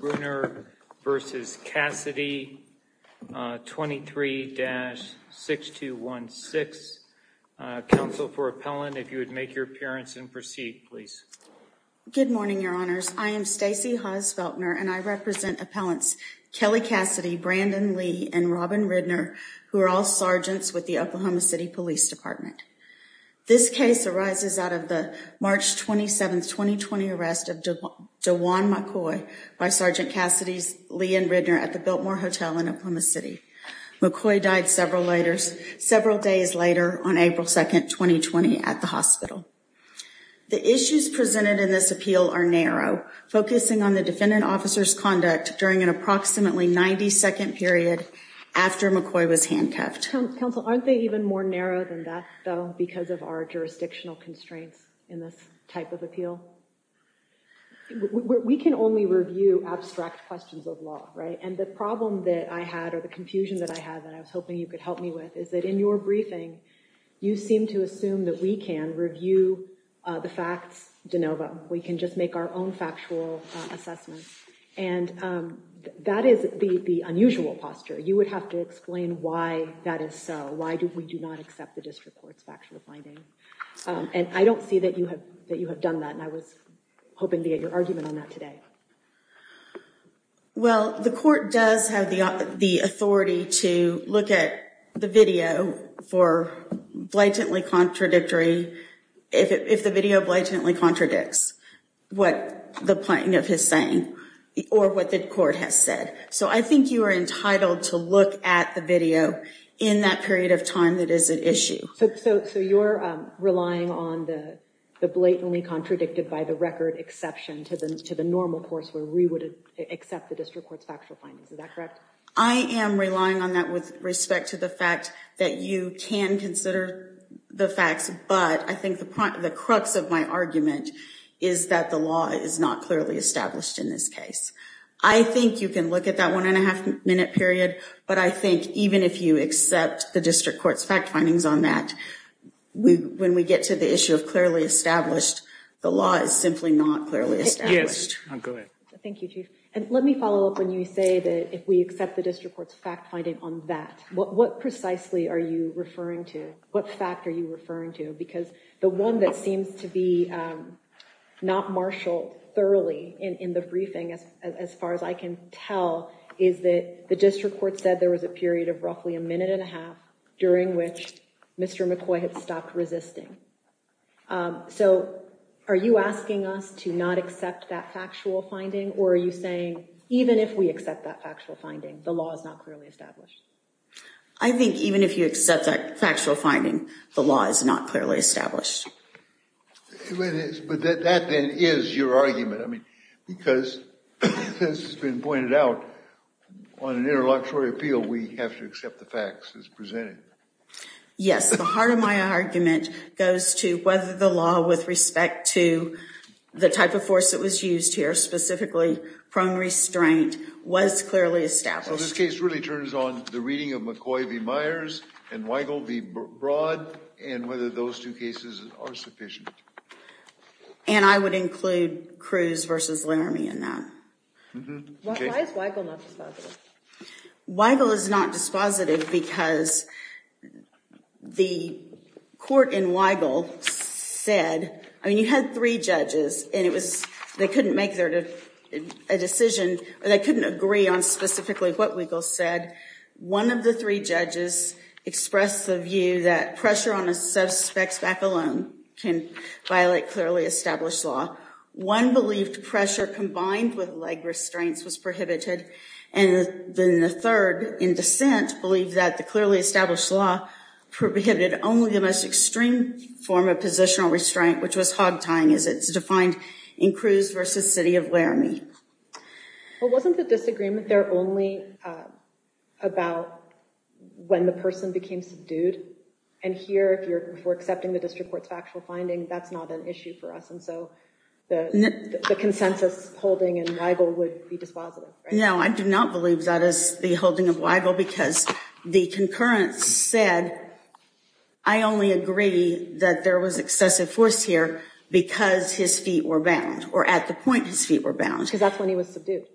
23-6216. Council, for appellant, if you would make your appearance and proceed, please. Good morning, your honors. I am Stacey Haas-Feltner, and I represent appellants Kelly Cassidy, Brandon Lee, and Robin Ridner, who are all sergeants with the Oklahoma City Police Department. This case arises out of the March 27, 2020 arrest of Dewan McCoy by Sergeant Cassidy's Lee and Ridner at the Biltmore Hotel in Oklahoma City. McCoy died several days later on April 2, 2020, at the hospital. The issues presented in this appeal are narrow, focusing on the defendant officer's conduct during an approximately 90-second period after McCoy was handcuffed. Council, aren't they even more narrow than that, though, because of our jurisdictional constraints in this type of appeal? We can only review abstract questions of law, right? And the problem that I had or the confusion that I had that I was hoping you could help me with is that in your briefing, you seem to assume that we can review the facts de novo. We can just make our own factual assessments. And that is the unusual posture. You would have to explain why that is so. Why do we do not accept the district court's factual findings? And I don't see that you have that you have done that. And I was hoping to get your argument on that today. Well, the court does have the authority to look at the video for blatantly contradictory, if the video blatantly contradicts what the plaintiff is saying or what the court has said. So I think you are entitled to look at the video in that period of time that is an issue. So you're relying on the blatantly contradicted by the record exception to the normal course where we would accept the district court's factual findings. Is that correct? I am relying on that with respect to the fact that you can consider the facts, but I think the crux of my argument is that the law is not clearly established in this case. I think you can look at that one and a half minute period, but I think even if you accept the district court's fact findings on that, when we get to the issue of clearly established, the law is simply not clearly established. Yes. Go ahead. Thank you, Chief. And let me follow up when you say that if we accept the district court's fact finding on that, what precisely are you referring to? What fact are you referring to? Because the one that seems to be not marshaled thoroughly in the briefing, as far as I can tell, is that the district court said there was a period of roughly a minute and a half during which Mr. McCoy had stopped resisting. So are you asking us to not accept that factual finding? Or are you saying even if we accept that factual finding, the law is not clearly established? I think even if you accept that factual finding, the law is not clearly established. But that then is your argument. I mean, because this has been pointed out on an interlocutory appeal, we have to accept the facts as presented. Yes. The heart of my argument goes to whether the law, with respect to the type of force that was used here, specifically prone restraint, was clearly established. So this case really turns on the reading of McCoy v. Myers and Weigel v. Broad, and whether those two cases are sufficient. And I would include Cruz versus Laramie in that. Why is Weigel not dispositive? Weigel is not dispositive because the court in Weigel said, I mean, you had three judges, and they couldn't make a decision, or they couldn't agree on specifically what Weigel said. One of the three judges expressed the view that pressure on a suspect's back alone can violate clearly established law. One believed pressure combined with leg restraints was prohibited. And then the third, in dissent, believed that the clearly established law prohibited only the most extreme form of positional restraint, which was hog tying as it's defined in Cruz versus city of Laramie. Well, wasn't the disagreement there only about when the person became subdued? And here, if we're accepting the district court's factual finding, that's not an issue for us. And so the consensus holding in Weigel would be dispositive, right? No, I do not believe that is the holding of Weigel, because the concurrence said, I only agree that there was excessive force here because his feet were bound, or at the point his feet were bound. Because that's when he was subdued.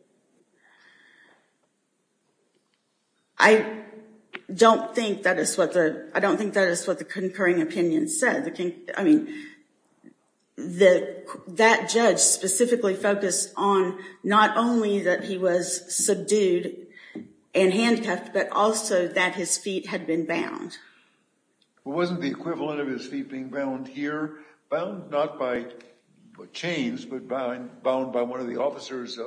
I don't think that is what the concurring opinion said. I mean, that judge specifically focused on not only that he was subdued and handcuffed, but also that his feet had been bound. Wasn't the equivalent of his feet being bound here, bound not by chains, but bound by one of the officers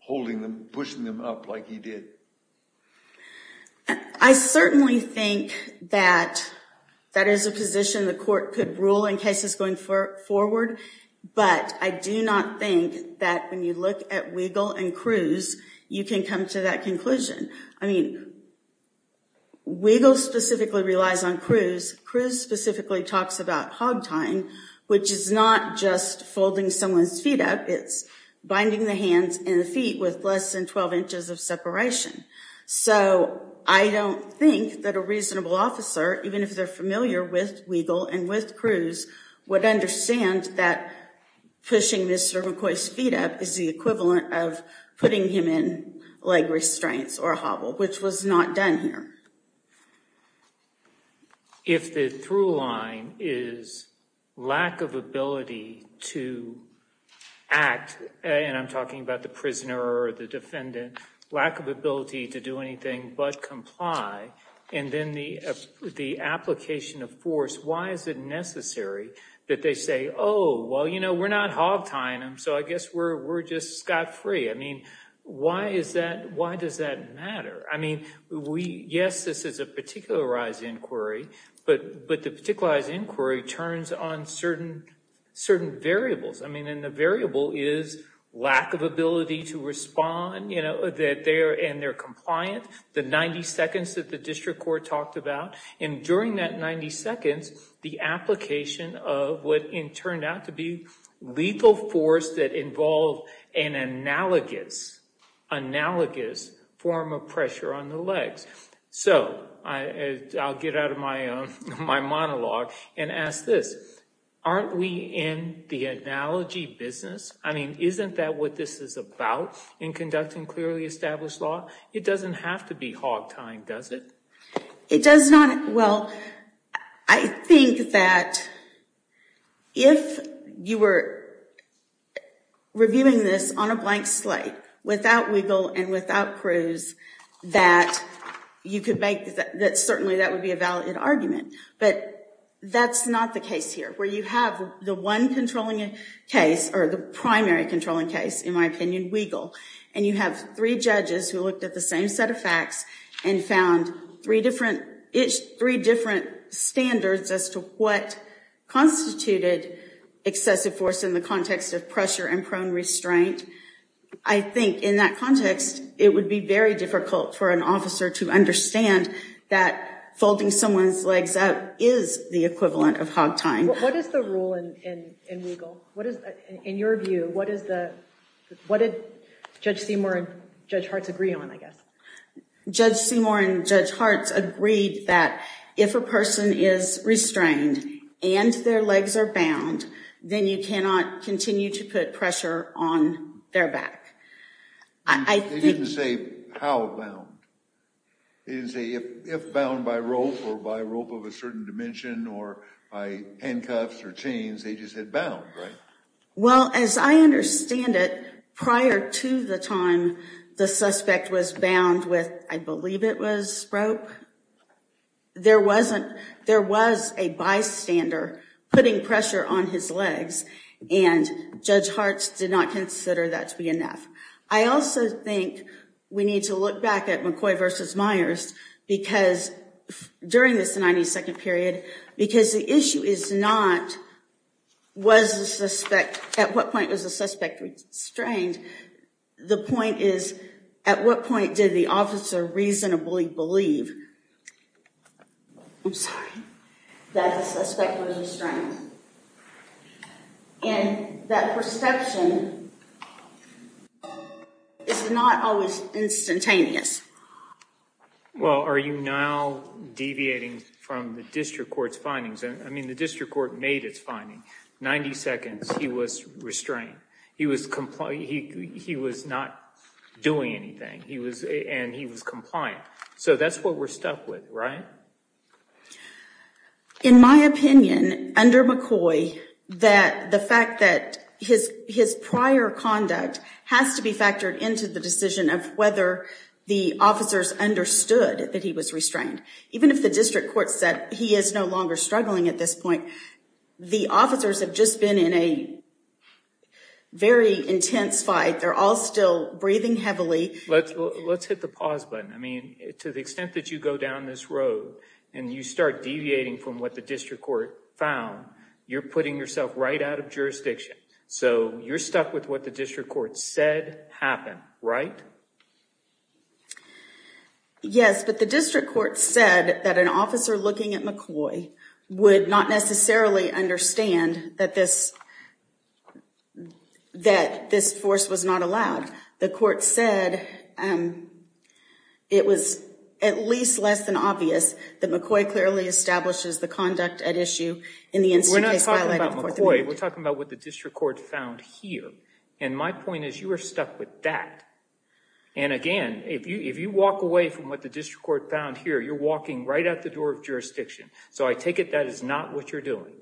holding them, pushing them up like he did. I certainly think that that is a position the court could rule in cases going forward. But I do not think that when you look at Weigel and Cruz, you can come to that conclusion. I mean, Weigel specifically relies on Cruz. Cruz specifically talks about hog tying, which is not just holding someone's feet up, it's binding the hands and the feet with less than 12 inches of separation. So I don't think that a reasonable officer, even if they're familiar with Weigel and with Cruz, would understand that pushing Mr. McCoy's feet up is the equivalent of putting him in leg restraints or a hobble, which was not done here. So if the through line is lack of ability to act, and I'm talking about the prisoner or the defendant, lack of ability to do anything but comply, and then the application of force, why is it necessary that they say, oh, well, you know, we're not hog tying him, so I guess we're just scot-free? I mean, why does that matter? I mean, yes, this is a particularized inquiry, but the particularized inquiry turns on certain variables. I mean, and the variable is lack of ability to respond, you know, and they're compliant, the 90 seconds that the district court talked about. And during that 90 seconds, the application of what turned out to be lethal force that involved an analogous form of pressure on the legs. So I'll get out of my monologue and ask this. Aren't we in the analogy business? I mean, isn't that what this is about in conducting clearly established law? It doesn't have to be hog tying, does it? It does not. Well, I think that if you were reviewing this on a blank slate without Weigel and without Cruz, that certainly that would be a valid argument. But that's not the case here, where you have the one controlling case, or the primary controlling case, in my opinion, Weigel, and you have three judges who looked at the same set of facts and found three different standards as to what constituted excessive force in the context of pressure and prone restraint. I think in that context, it would be very difficult for an officer to understand that folding someone's legs up is the equivalent of hog tying. What is the rule in Weigel? In your view, what did Judge Seymour and Judge Hart agree on, I guess? Judge Seymour and Judge Hart agreed that if a person is restrained and their legs are bound, then you cannot continue to put pressure on their back. I think- They didn't say how bound. They didn't say if bound by rope, or by rope of a certain dimension, or by handcuffs or chains. They just said bound, right? Well, as I understand it, prior to the time the suspect was bound with, I believe it was, rope, there was a bystander putting pressure on his legs. And Judge Hart did not consider that to be enough. I also think we need to look back at McCoy versus Myers during this 92nd period, because the issue is not, was the suspect, at what point was the suspect restrained? The point is, at what point did the officer reasonably believe, I'm sorry, that the suspect was restrained? And that perception is not always instantaneous. Well, are you now deviating from the district court's findings? I mean, the district court made its finding. 90 seconds, he was restrained. He was not doing anything, and he was compliant. So that's what we're stuck with, right? In my opinion, under McCoy, the fact that his prior conduct has to be factored into the decision of whether the officers understood that he was restrained. Even if the district court said he is no longer struggling at this point, the officers have just been in a very intense fight. They're all still breathing heavily. Let's hit the pause button. I mean, to the extent that you go down this road and you start deviating from what the district court found, you're putting yourself right out of jurisdiction. So you're stuck with what the district court said happened, right? Yes, but the district court said that an officer looking at McCoy would not necessarily understand that this force was not allowed. The court said it was at least less than obvious that McCoy clearly establishes the conduct at issue in the incident case violated in Court 308. We're not talking about McCoy. We're talking about what the district court found here. And my point is, you are stuck with that. And again, if you walk away from what the district court found here, you're walking right out the door of jurisdiction. So I take it that is not what you're doing.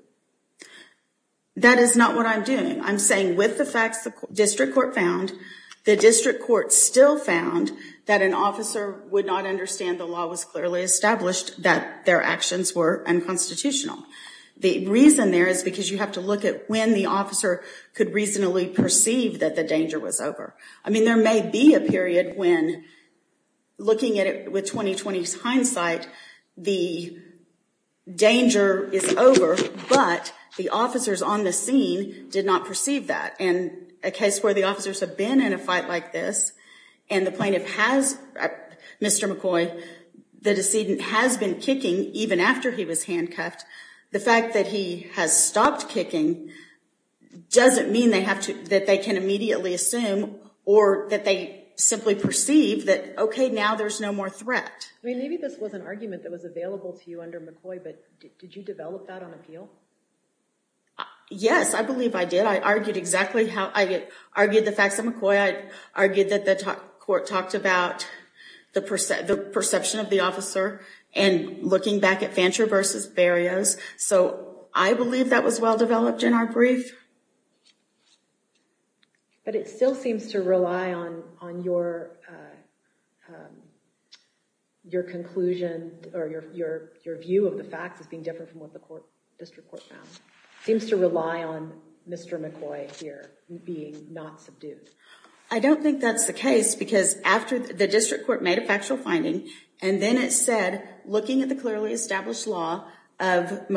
That is not what I'm doing. I'm saying with the facts the district court found, the district court still found that an officer would not understand the law was clearly established that their actions were unconstitutional. The reason there is because you have to look at when the officer could reasonably perceive that the danger was over. I mean, there may be a period when looking at it with 20-20's hindsight, the danger is over, but the officers on the scene did not perceive that. And a case where the officers have been in a fight like this, and the plaintiff has, Mr. McCoy, the decedent has been kicking even after he was handcuffed, the fact that he has stopped kicking doesn't mean that they can immediately assume or that they simply perceive that, okay, now there's no more threat. I mean, maybe this was an argument that was available to you under McCoy, but did you develop that on appeal? Yes, I believe I did. I argued exactly how, I argued the facts of McCoy. I argued that the court talked about the perception of the officer and looking back at Fancher versus Berrios. So I believe that was well-developed in our brief. But it still seems to rely on your conclusion or your view of the facts as being different from what the district court found. Seems to rely on Mr. McCoy here being not subdued. I don't think that's the case because after the district court made a factual finding and then it said, looking at the clearly established law of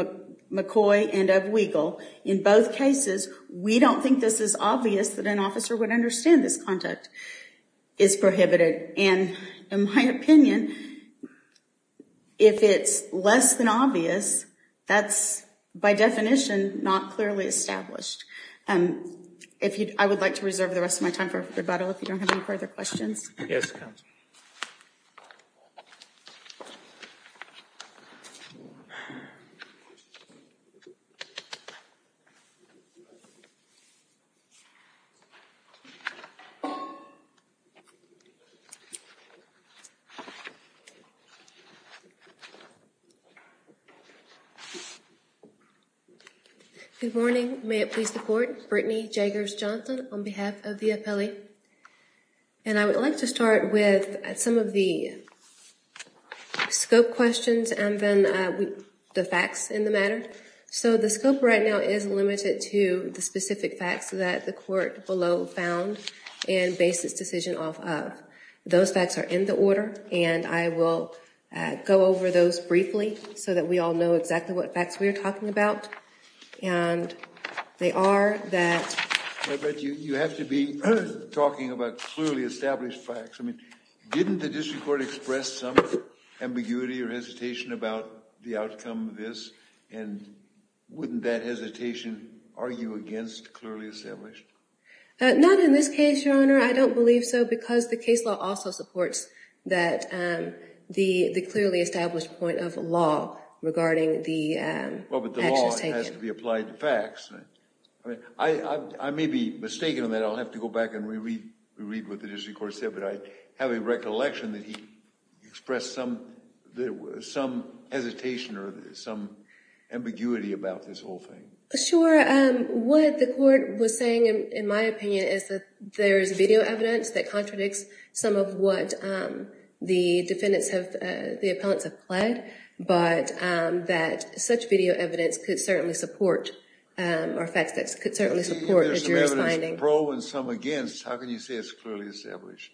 McCoy and of Weigel, in both cases, we don't think this is obvious that an officer would understand this conduct is prohibited. And in my opinion, if it's less than obvious, that's by definition not clearly established. I would like to reserve the rest of my time for rebuttal if you don't have any further questions. Yes, counsel. Good morning. May it please the court. Brittany Jaggers-Johnson on behalf of the appellee. And I would like to start with some of the scope questions and then the facts in the matter. So the scope right now is limited to the specific facts that the court below found and based its decision off of. Those facts are in the order, and I will go over those briefly so that we all know exactly what facts we are talking about. And they are that- You have to be talking about clearly established facts. I mean, didn't the district court express some ambiguity or hesitation about the outcome of this? And wouldn't that hesitation argue against clearly established? Not in this case, Your Honor. I don't believe so because the case law also supports that the clearly established point of law regarding the actions taken. Well, but the law has to be applied to facts. I mean, I may be mistaken on that. I'll have to go back and reread what the district court said, but I have a recollection that he expressed some hesitation or some ambiguity about this whole thing. Sure, what the court was saying, in my opinion, is that there is video evidence that contradicts some of what the defendants have, the appellants have pled, but that such video evidence could certainly support, or facts that could certainly support the jury's finding. If there's some evidence pro and some against, how can you say it's clearly established?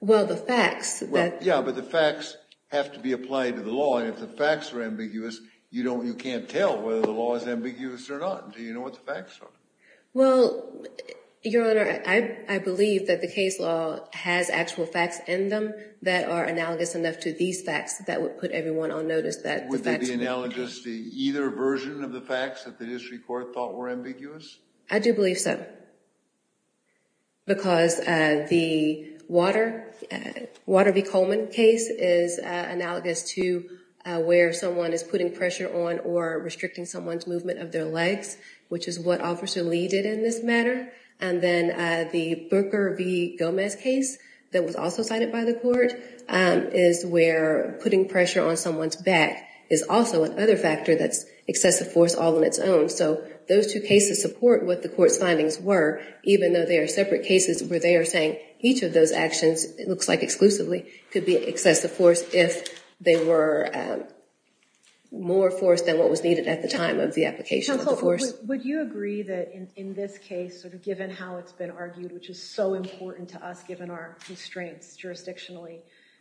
Well, the facts that- Yeah, but the facts have to be applied to the law, and if the facts are ambiguous, you can't tell whether the law is ambiguous or not until you know what the facts are. Well, Your Honor, I believe that the case law has actual facts in them that are analogous enough to these facts that would put everyone on notice that- Would they be analogous to either version of the facts that the district court thought were ambiguous? I do believe so, because the Water v. Coleman case is analogous to where someone is putting pressure on or restricting someone's movement of their legs, which is what Officer Lee did in this matter, and then the Booker v. Gomez case that was also cited by the court is where putting pressure on someone's back is also another factor that's excessive force all on its own. So those two cases support what the court's findings were, even though they are separate cases where they are saying each of those actions, it looks like exclusively, could be excessive force if they were more force than what was needed at the time of the application of the force. Would you agree that in this case, sort of given how it's been argued, which is so important to us given our constraints jurisdictionally,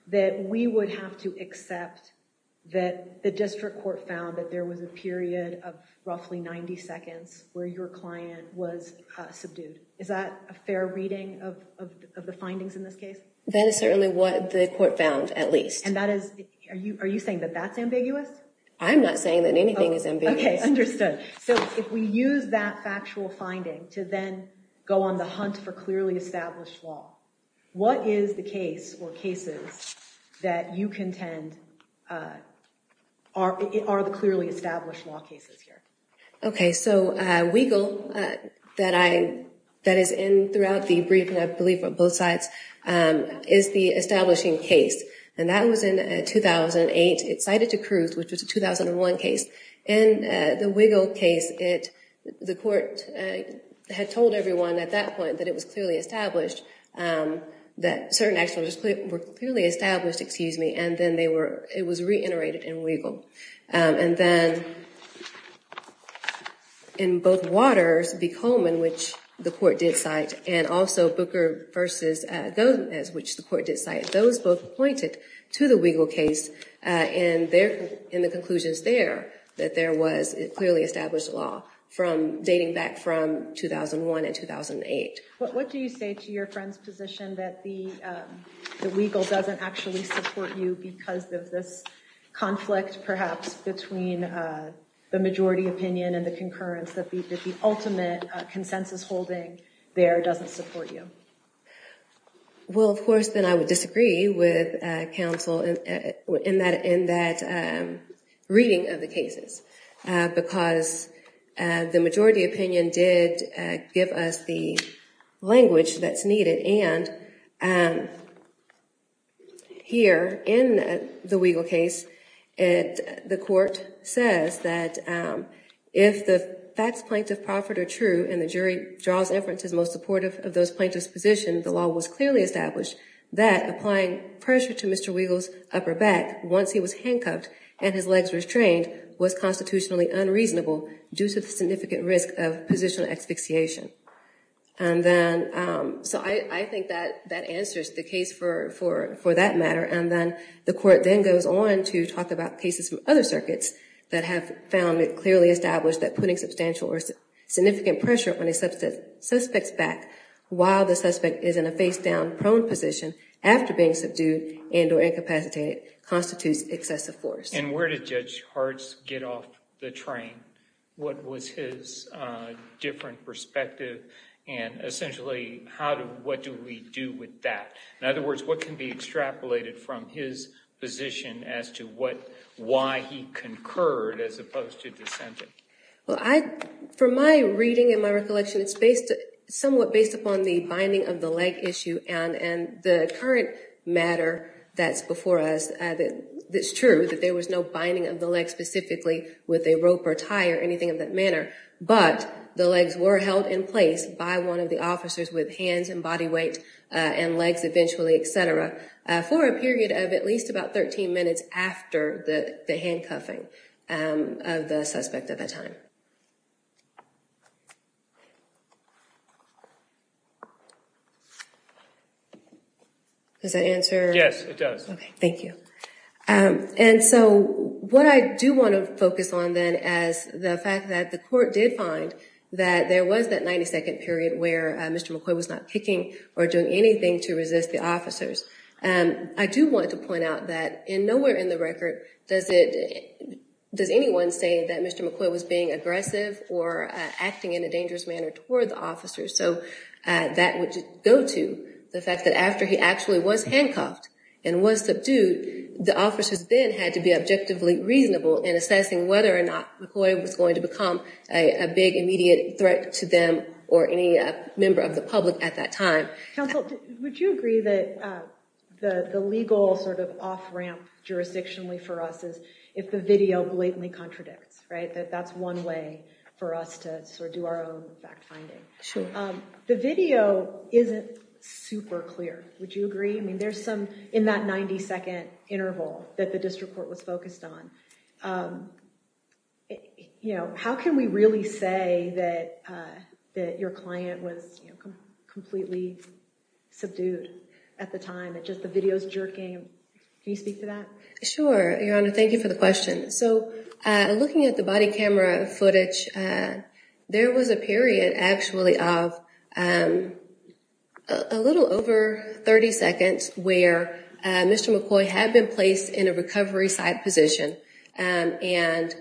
that we would have to accept that the district court found that there was a period of roughly 90 seconds where your client was subdued? Is that a fair reading of the findings in this case? That is certainly what the court found, at least. And that is, are you saying that that's ambiguous? I'm not saying that anything is ambiguous. Okay, understood. So if we use that factual finding to then go on the hunt for clearly established law, what is the case or cases that you contend are the clearly established law cases here? Okay, so Weigel, that is in throughout the brief, and I believe on both sides, is the establishing case. And that was in 2008. It's cited to Cruz, which was a 2001 case. And the Weigel case, the court had told everyone at that point that it was clearly established, that certain actions were clearly established, excuse me, and then it was reiterated in Weigel. And then in both Waters v. Coleman, which the court did cite, and also Booker v. Gomez, which the court did cite, those both pointed to the Weigel case in the conclusions there, that there was clearly established law dating back from 2001 and 2008. What do you say to your friend's position that the Weigel doesn't actually support you because of this conflict, perhaps, between the majority opinion and the concurrence, that the ultimate consensus holding there doesn't support you? Well, of course, then I would disagree with counsel in that reading of the cases, because the majority opinion did give us the language that's needed. And here, in the Weigel case, the court says that if the facts plaintiff-profit are true and the jury draws inferences most supportive of those plaintiffs' position, the law was clearly established that applying pressure to Mr. Weigel's upper back once he was handcuffed and his legs restrained was constitutionally unreasonable due to the significant risk of positional asphyxiation. And then, so I think that answers the case for that matter. And then the court then goes on to talk about cases from other circuits that have found it clearly established that putting substantial or significant pressure on a suspect's back while the suspect is in a face-down prone position after being subdued and or incapacitated constitutes excessive force. And where did Judge Hartz get off the train? What was his different perspective? And essentially, what do we do with that? In other words, what can be extrapolated from his position as to why he concurred as opposed to dissenting? Well, for my reading and my recollection, it's somewhat based upon the binding of the leg issue and the current matter that's before us. It's true that there was no binding of the leg specifically with a rope or tie or anything of that manner. But the legs were held in place by one of the officers with hands and body weight and legs eventually, et cetera, for a period of at least about 13 minutes after the handcuffing of the suspect at that time. Does that answer? Yes, it does. Okay, thank you. And so what I do want to focus on then is the fact that the court did find that there was that 90-second period where Mr. McCoy was not kicking or doing anything to resist the officers. I do want to point out that in nowhere in the record does anyone say that Mr. McCoy was being aggressive or acting in a dangerous manner toward the officers. So that would go to the fact that after he actually was handcuffed and was subdued, the officers then had to be objectively reasonable in assessing whether or not McCoy was going to become a big immediate threat to them or any member of the public at that time. Counsel, would you agree that the legal sort of off-ramp jurisdictionally for us is if the video blatantly contradicts, right? That's one way for us to sort of do our own fact-finding. The video isn't super clear. Would you agree? I mean, there's some in that 90-second interval that the district court was focused on. But, you know, how can we really say that your client was completely subdued at the time, that just the video's jerking? Can you speak to that? Sure, Your Honor. Thank you for the question. So looking at the body camera footage, there was a period actually of a little over 30 seconds where Mr. McCoy had been placed in a recovery site position. And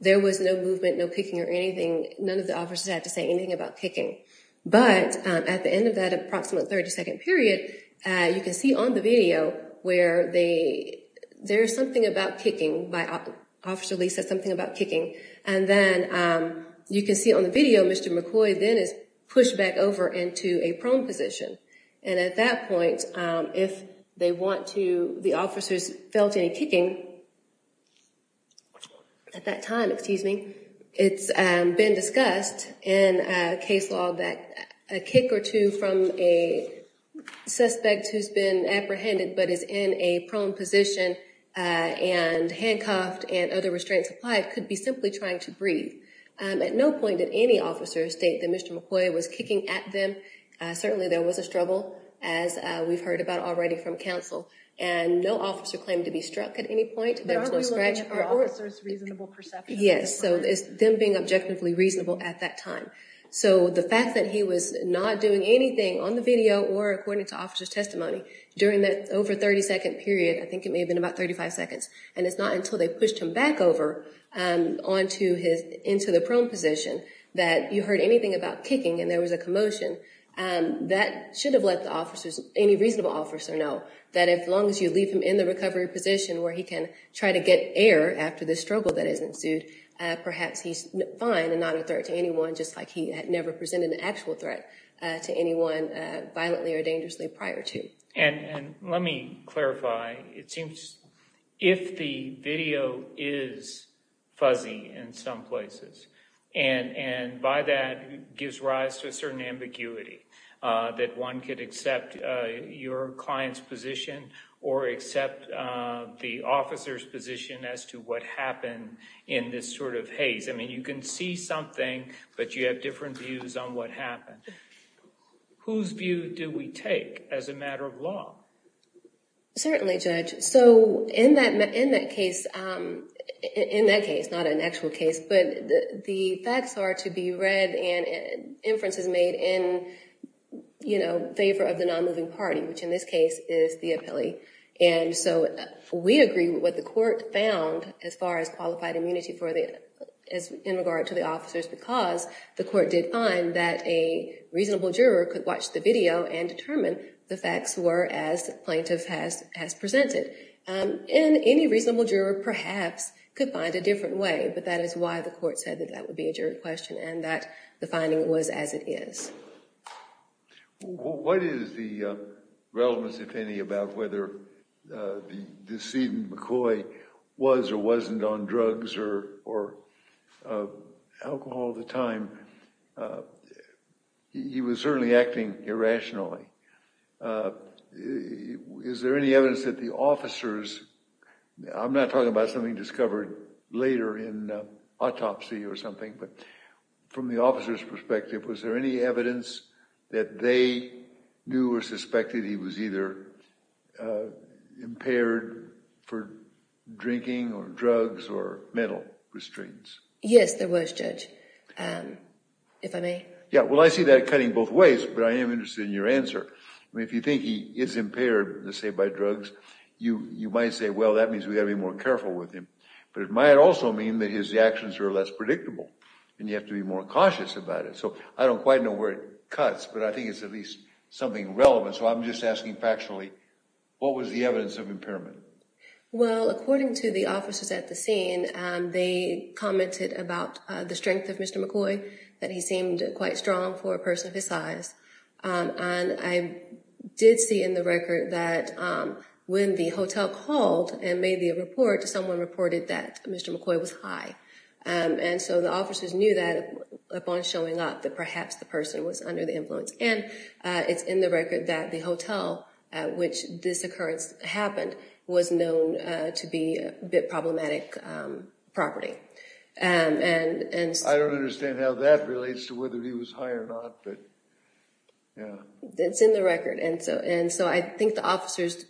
there was no movement, no kicking or anything. None of the officers had to say anything about kicking. But at the end of that approximate 30-second period, you can see on the video where they, there's something about kicking. Officer Lee said something about kicking. And then you can see on the video Mr. McCoy then is pushed back over into a prone position. And at that point, if they want to, the officers felt any kicking, at that time, excuse me, it's been discussed in a case law that a kick or two from a suspect who's been apprehended but is in a prone position and handcuffed and other restraints applied could be simply trying to breathe. At no point did any officers state that Mr. McCoy was kicking at them. Certainly there was a struggle as we've heard about already from counsel. And no officer claimed to be struck at any point. There was no scratch. But are we looking at the officer's reasonable perception? Yes. So it's them being objectively reasonable at that time. So the fact that he was not doing anything on the video or according to officer's testimony during that over 30-second period, I think it may have been about 35 seconds, and it's not until they pushed him back over onto his, into the prone position, that you heard anything about kicking and there was a commotion. That should have let the officers, any reasonable officer know that as long as you leave him in the recovery position where he can try to get air after the struggle that has ensued, perhaps he's fine and not a threat to anyone, just like he had never presented an actual threat to anyone violently or dangerously prior to. And let me clarify. It seems if the video is fuzzy in some places and by that gives rise to a certain ambiguity that one could accept your client's position or accept the officer's position as to what happened in this sort of haze. I mean, you can see something, but you have different views on what happened. Whose view do we take as a matter of law? Certainly, Judge. So in that case, not an actual case, but the facts are to be read and inferences made in favor of the non-moving party, which in this case is the appellee. And so we agree with what the court found as far as qualified immunity in regard to the officers because the court did find that a reasonable juror could watch the video and determine the facts were as plaintiff has presented. And any reasonable juror perhaps could find a different way, but that is why the court said that that would be a jury question and that the finding was as it is. What is the relevance, if any, about whether the decedent McCoy was or wasn't on drugs or alcohol at the time? He was certainly acting irrationally. Is there any evidence that the officers, I'm not talking about something discovered later in autopsy or something, but from the officer's perspective, was there any evidence that they knew or suspected he was either impaired for drinking or drugs or mental restraints? Yes, there was, Judge. And if I may? Yeah, well, I see that cutting both ways, but I am interested in your answer. I mean, if you think he is impaired, let's say by drugs, you might say, well, that means we got to be more careful with him. But it might also mean that his actions are less predictable and you have to be more cautious about it. So I don't quite know where it cuts, but I think it's at least something relevant. So I'm just asking factually, what was the evidence of impairment? Well, according to the officers at the scene, they commented about the strength of Mr. McCoy, that he seemed quite strong for a person of his size. And I did see in the record that when the hotel called and made the report, someone reported that Mr. McCoy was high. And so the officers knew that upon showing up, that perhaps the person was under the influence. And it's in the record that the hotel at which this occurrence happened was known to be a bit problematic property. I don't understand how that relates to whether he was high or not, but yeah. It's in the record. And so I think the officers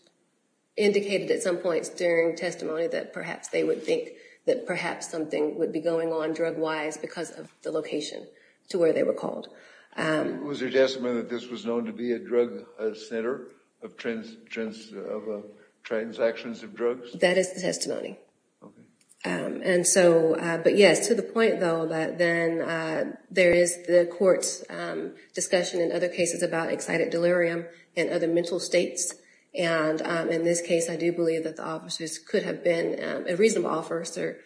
indicated at some points during testimony that perhaps they would think that perhaps something would be going on drug-wise because of the location to where they were called. Was there testimony that this was known to be a drug center of transactions of drugs? That is the testimony. But yes, to the point, though, that then there is the court's discussion in other cases about excited delirium and other mental states. And in this case, I do believe that the officers could have been a reasonable officer,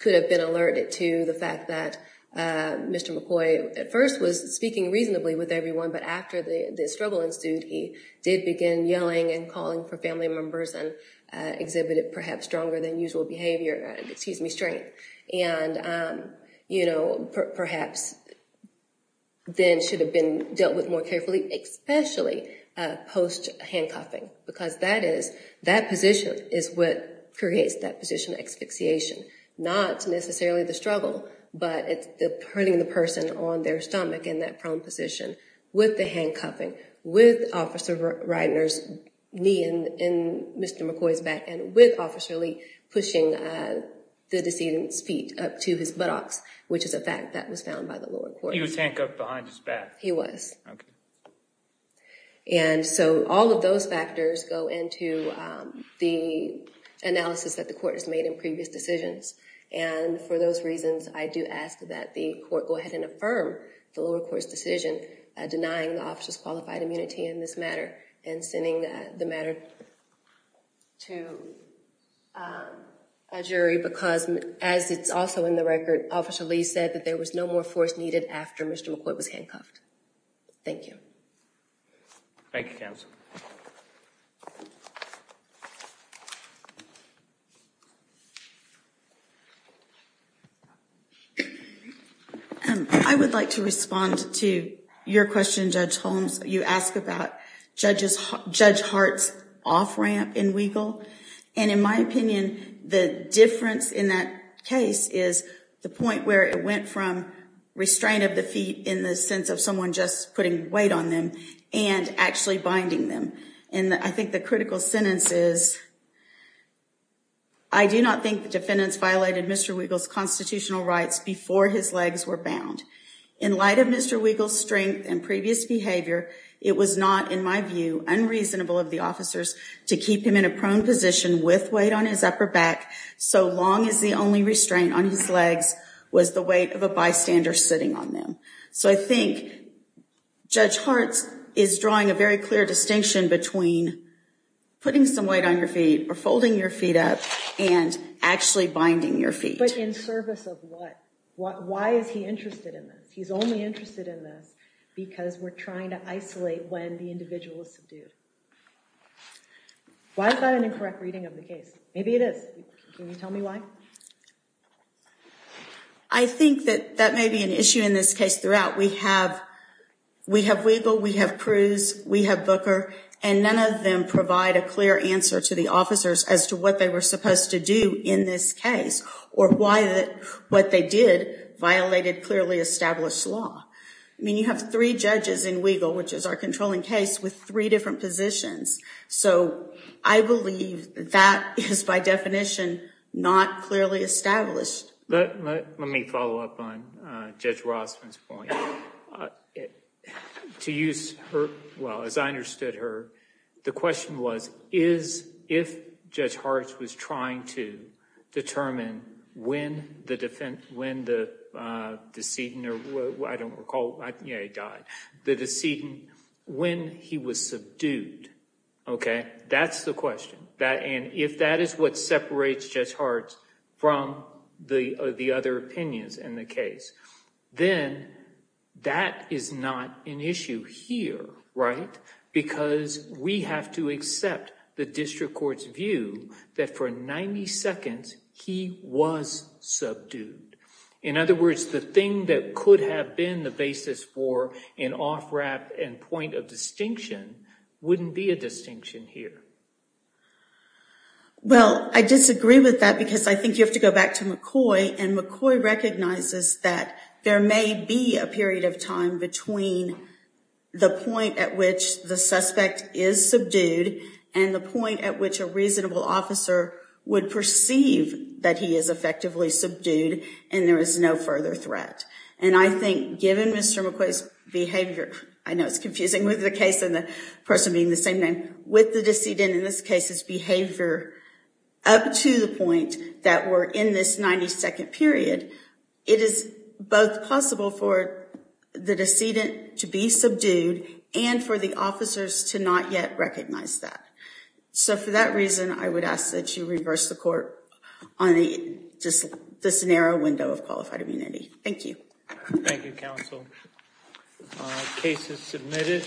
could have been alerted to the fact that Mr. McCoy at first was speaking reasonably with everyone. But after the struggle ensued, he did begin yelling and calling for family members and exhibited perhaps stronger than usual behavior, excuse me, strength. And, you know, perhaps then should have been dealt with more carefully, especially post-handcuffing. Because that is, that position is what creates that position of asphyxiation. Not necessarily the struggle, but it's the putting the person on their stomach in that prone position with the handcuffing, with Officer Reitner's knee in Mr. McCoy's back, and with Officer Lee pushing the decedent's feet up to his buttocks, which is a fact that was found by the lower court. He was handcuffed behind his back. He was. Okay. And so all of those factors go into the analysis that the court has made in previous decisions. And for those reasons, I do ask that the court go ahead and affirm the lower court's decision denying the officer's qualified immunity in this matter and sending the matter to a jury. Because as it's also in the record, Officer Lee said that there was no more force needed after Mr. McCoy was handcuffed. Thank you. Thank you, counsel. I would like to respond to your question, Judge Holmes. You asked about Judge Hart's off-ramp in Weigel. And in my opinion, the difference in that case is the point where it went from restraint of the feet in the sense of someone just putting weight on them and actually binding them. And I think the critical sentence is, I do not think the defendants violated Mr. Weigel's constitutional rights before his legs were bound. In light of Mr. Weigel's strength and previous behavior, it was not, in my view, unreasonable of the officers to keep him in a prone position with weight on his upper back so long as the only restraint on his legs was the weight of a bystander sitting on them. So I think Judge Hart is drawing a very clear distinction between putting some weight on your feet or folding your feet up and actually binding your feet. But in service of what? Why is he interested in this? He's only interested in this because we're trying to isolate when the individual is subdued. Why is that an incorrect reading of the case? Maybe it is. Can you tell me why? I think that that may be an issue in this case throughout. We have Weigel, we have Cruz, we have Booker, and none of them provide a clear answer to the officers as to what they were supposed to do in this case or why what they did violated clearly established law. I mean, you have three judges in Weigel, which is our controlling case, with three different positions. So I believe that is, by definition, not clearly established. Let me follow up on Judge Rossman's point. To use her, well, as I understood her, the question was, is if Judge Hart was trying to determine when the defendant, when the decedent, or I don't recall, yeah, he died, the decedent, when he was subdued, okay, that's the question. If that is what separates Judge Hart from the other opinions in the case, then that is not an issue here, right? Because we have to accept the district court's view that for 90 seconds he was subdued. In other words, the thing that could have been the basis for an off-ramp and point of distinction wouldn't be a distinction here. Well, I disagree with that because I think you have to go back to McCoy, and McCoy recognizes that there may be a period of time between the point at which the suspect is subdued and the point at which a reasonable officer would perceive that he is effectively subdued and there is no further threat. And I think given Mr. McCoy's behavior, I know it's confusing with the case and the person being the same name, with the decedent in this case's behavior up to the point that we're in this 90-second period, it is both possible for the decedent to be subdued and for the officers to not yet recognize that. So for that reason, I would ask that you reverse the court on just this narrow window of qualified immunity. Thank you. Thank you, counsel. Case is submitted.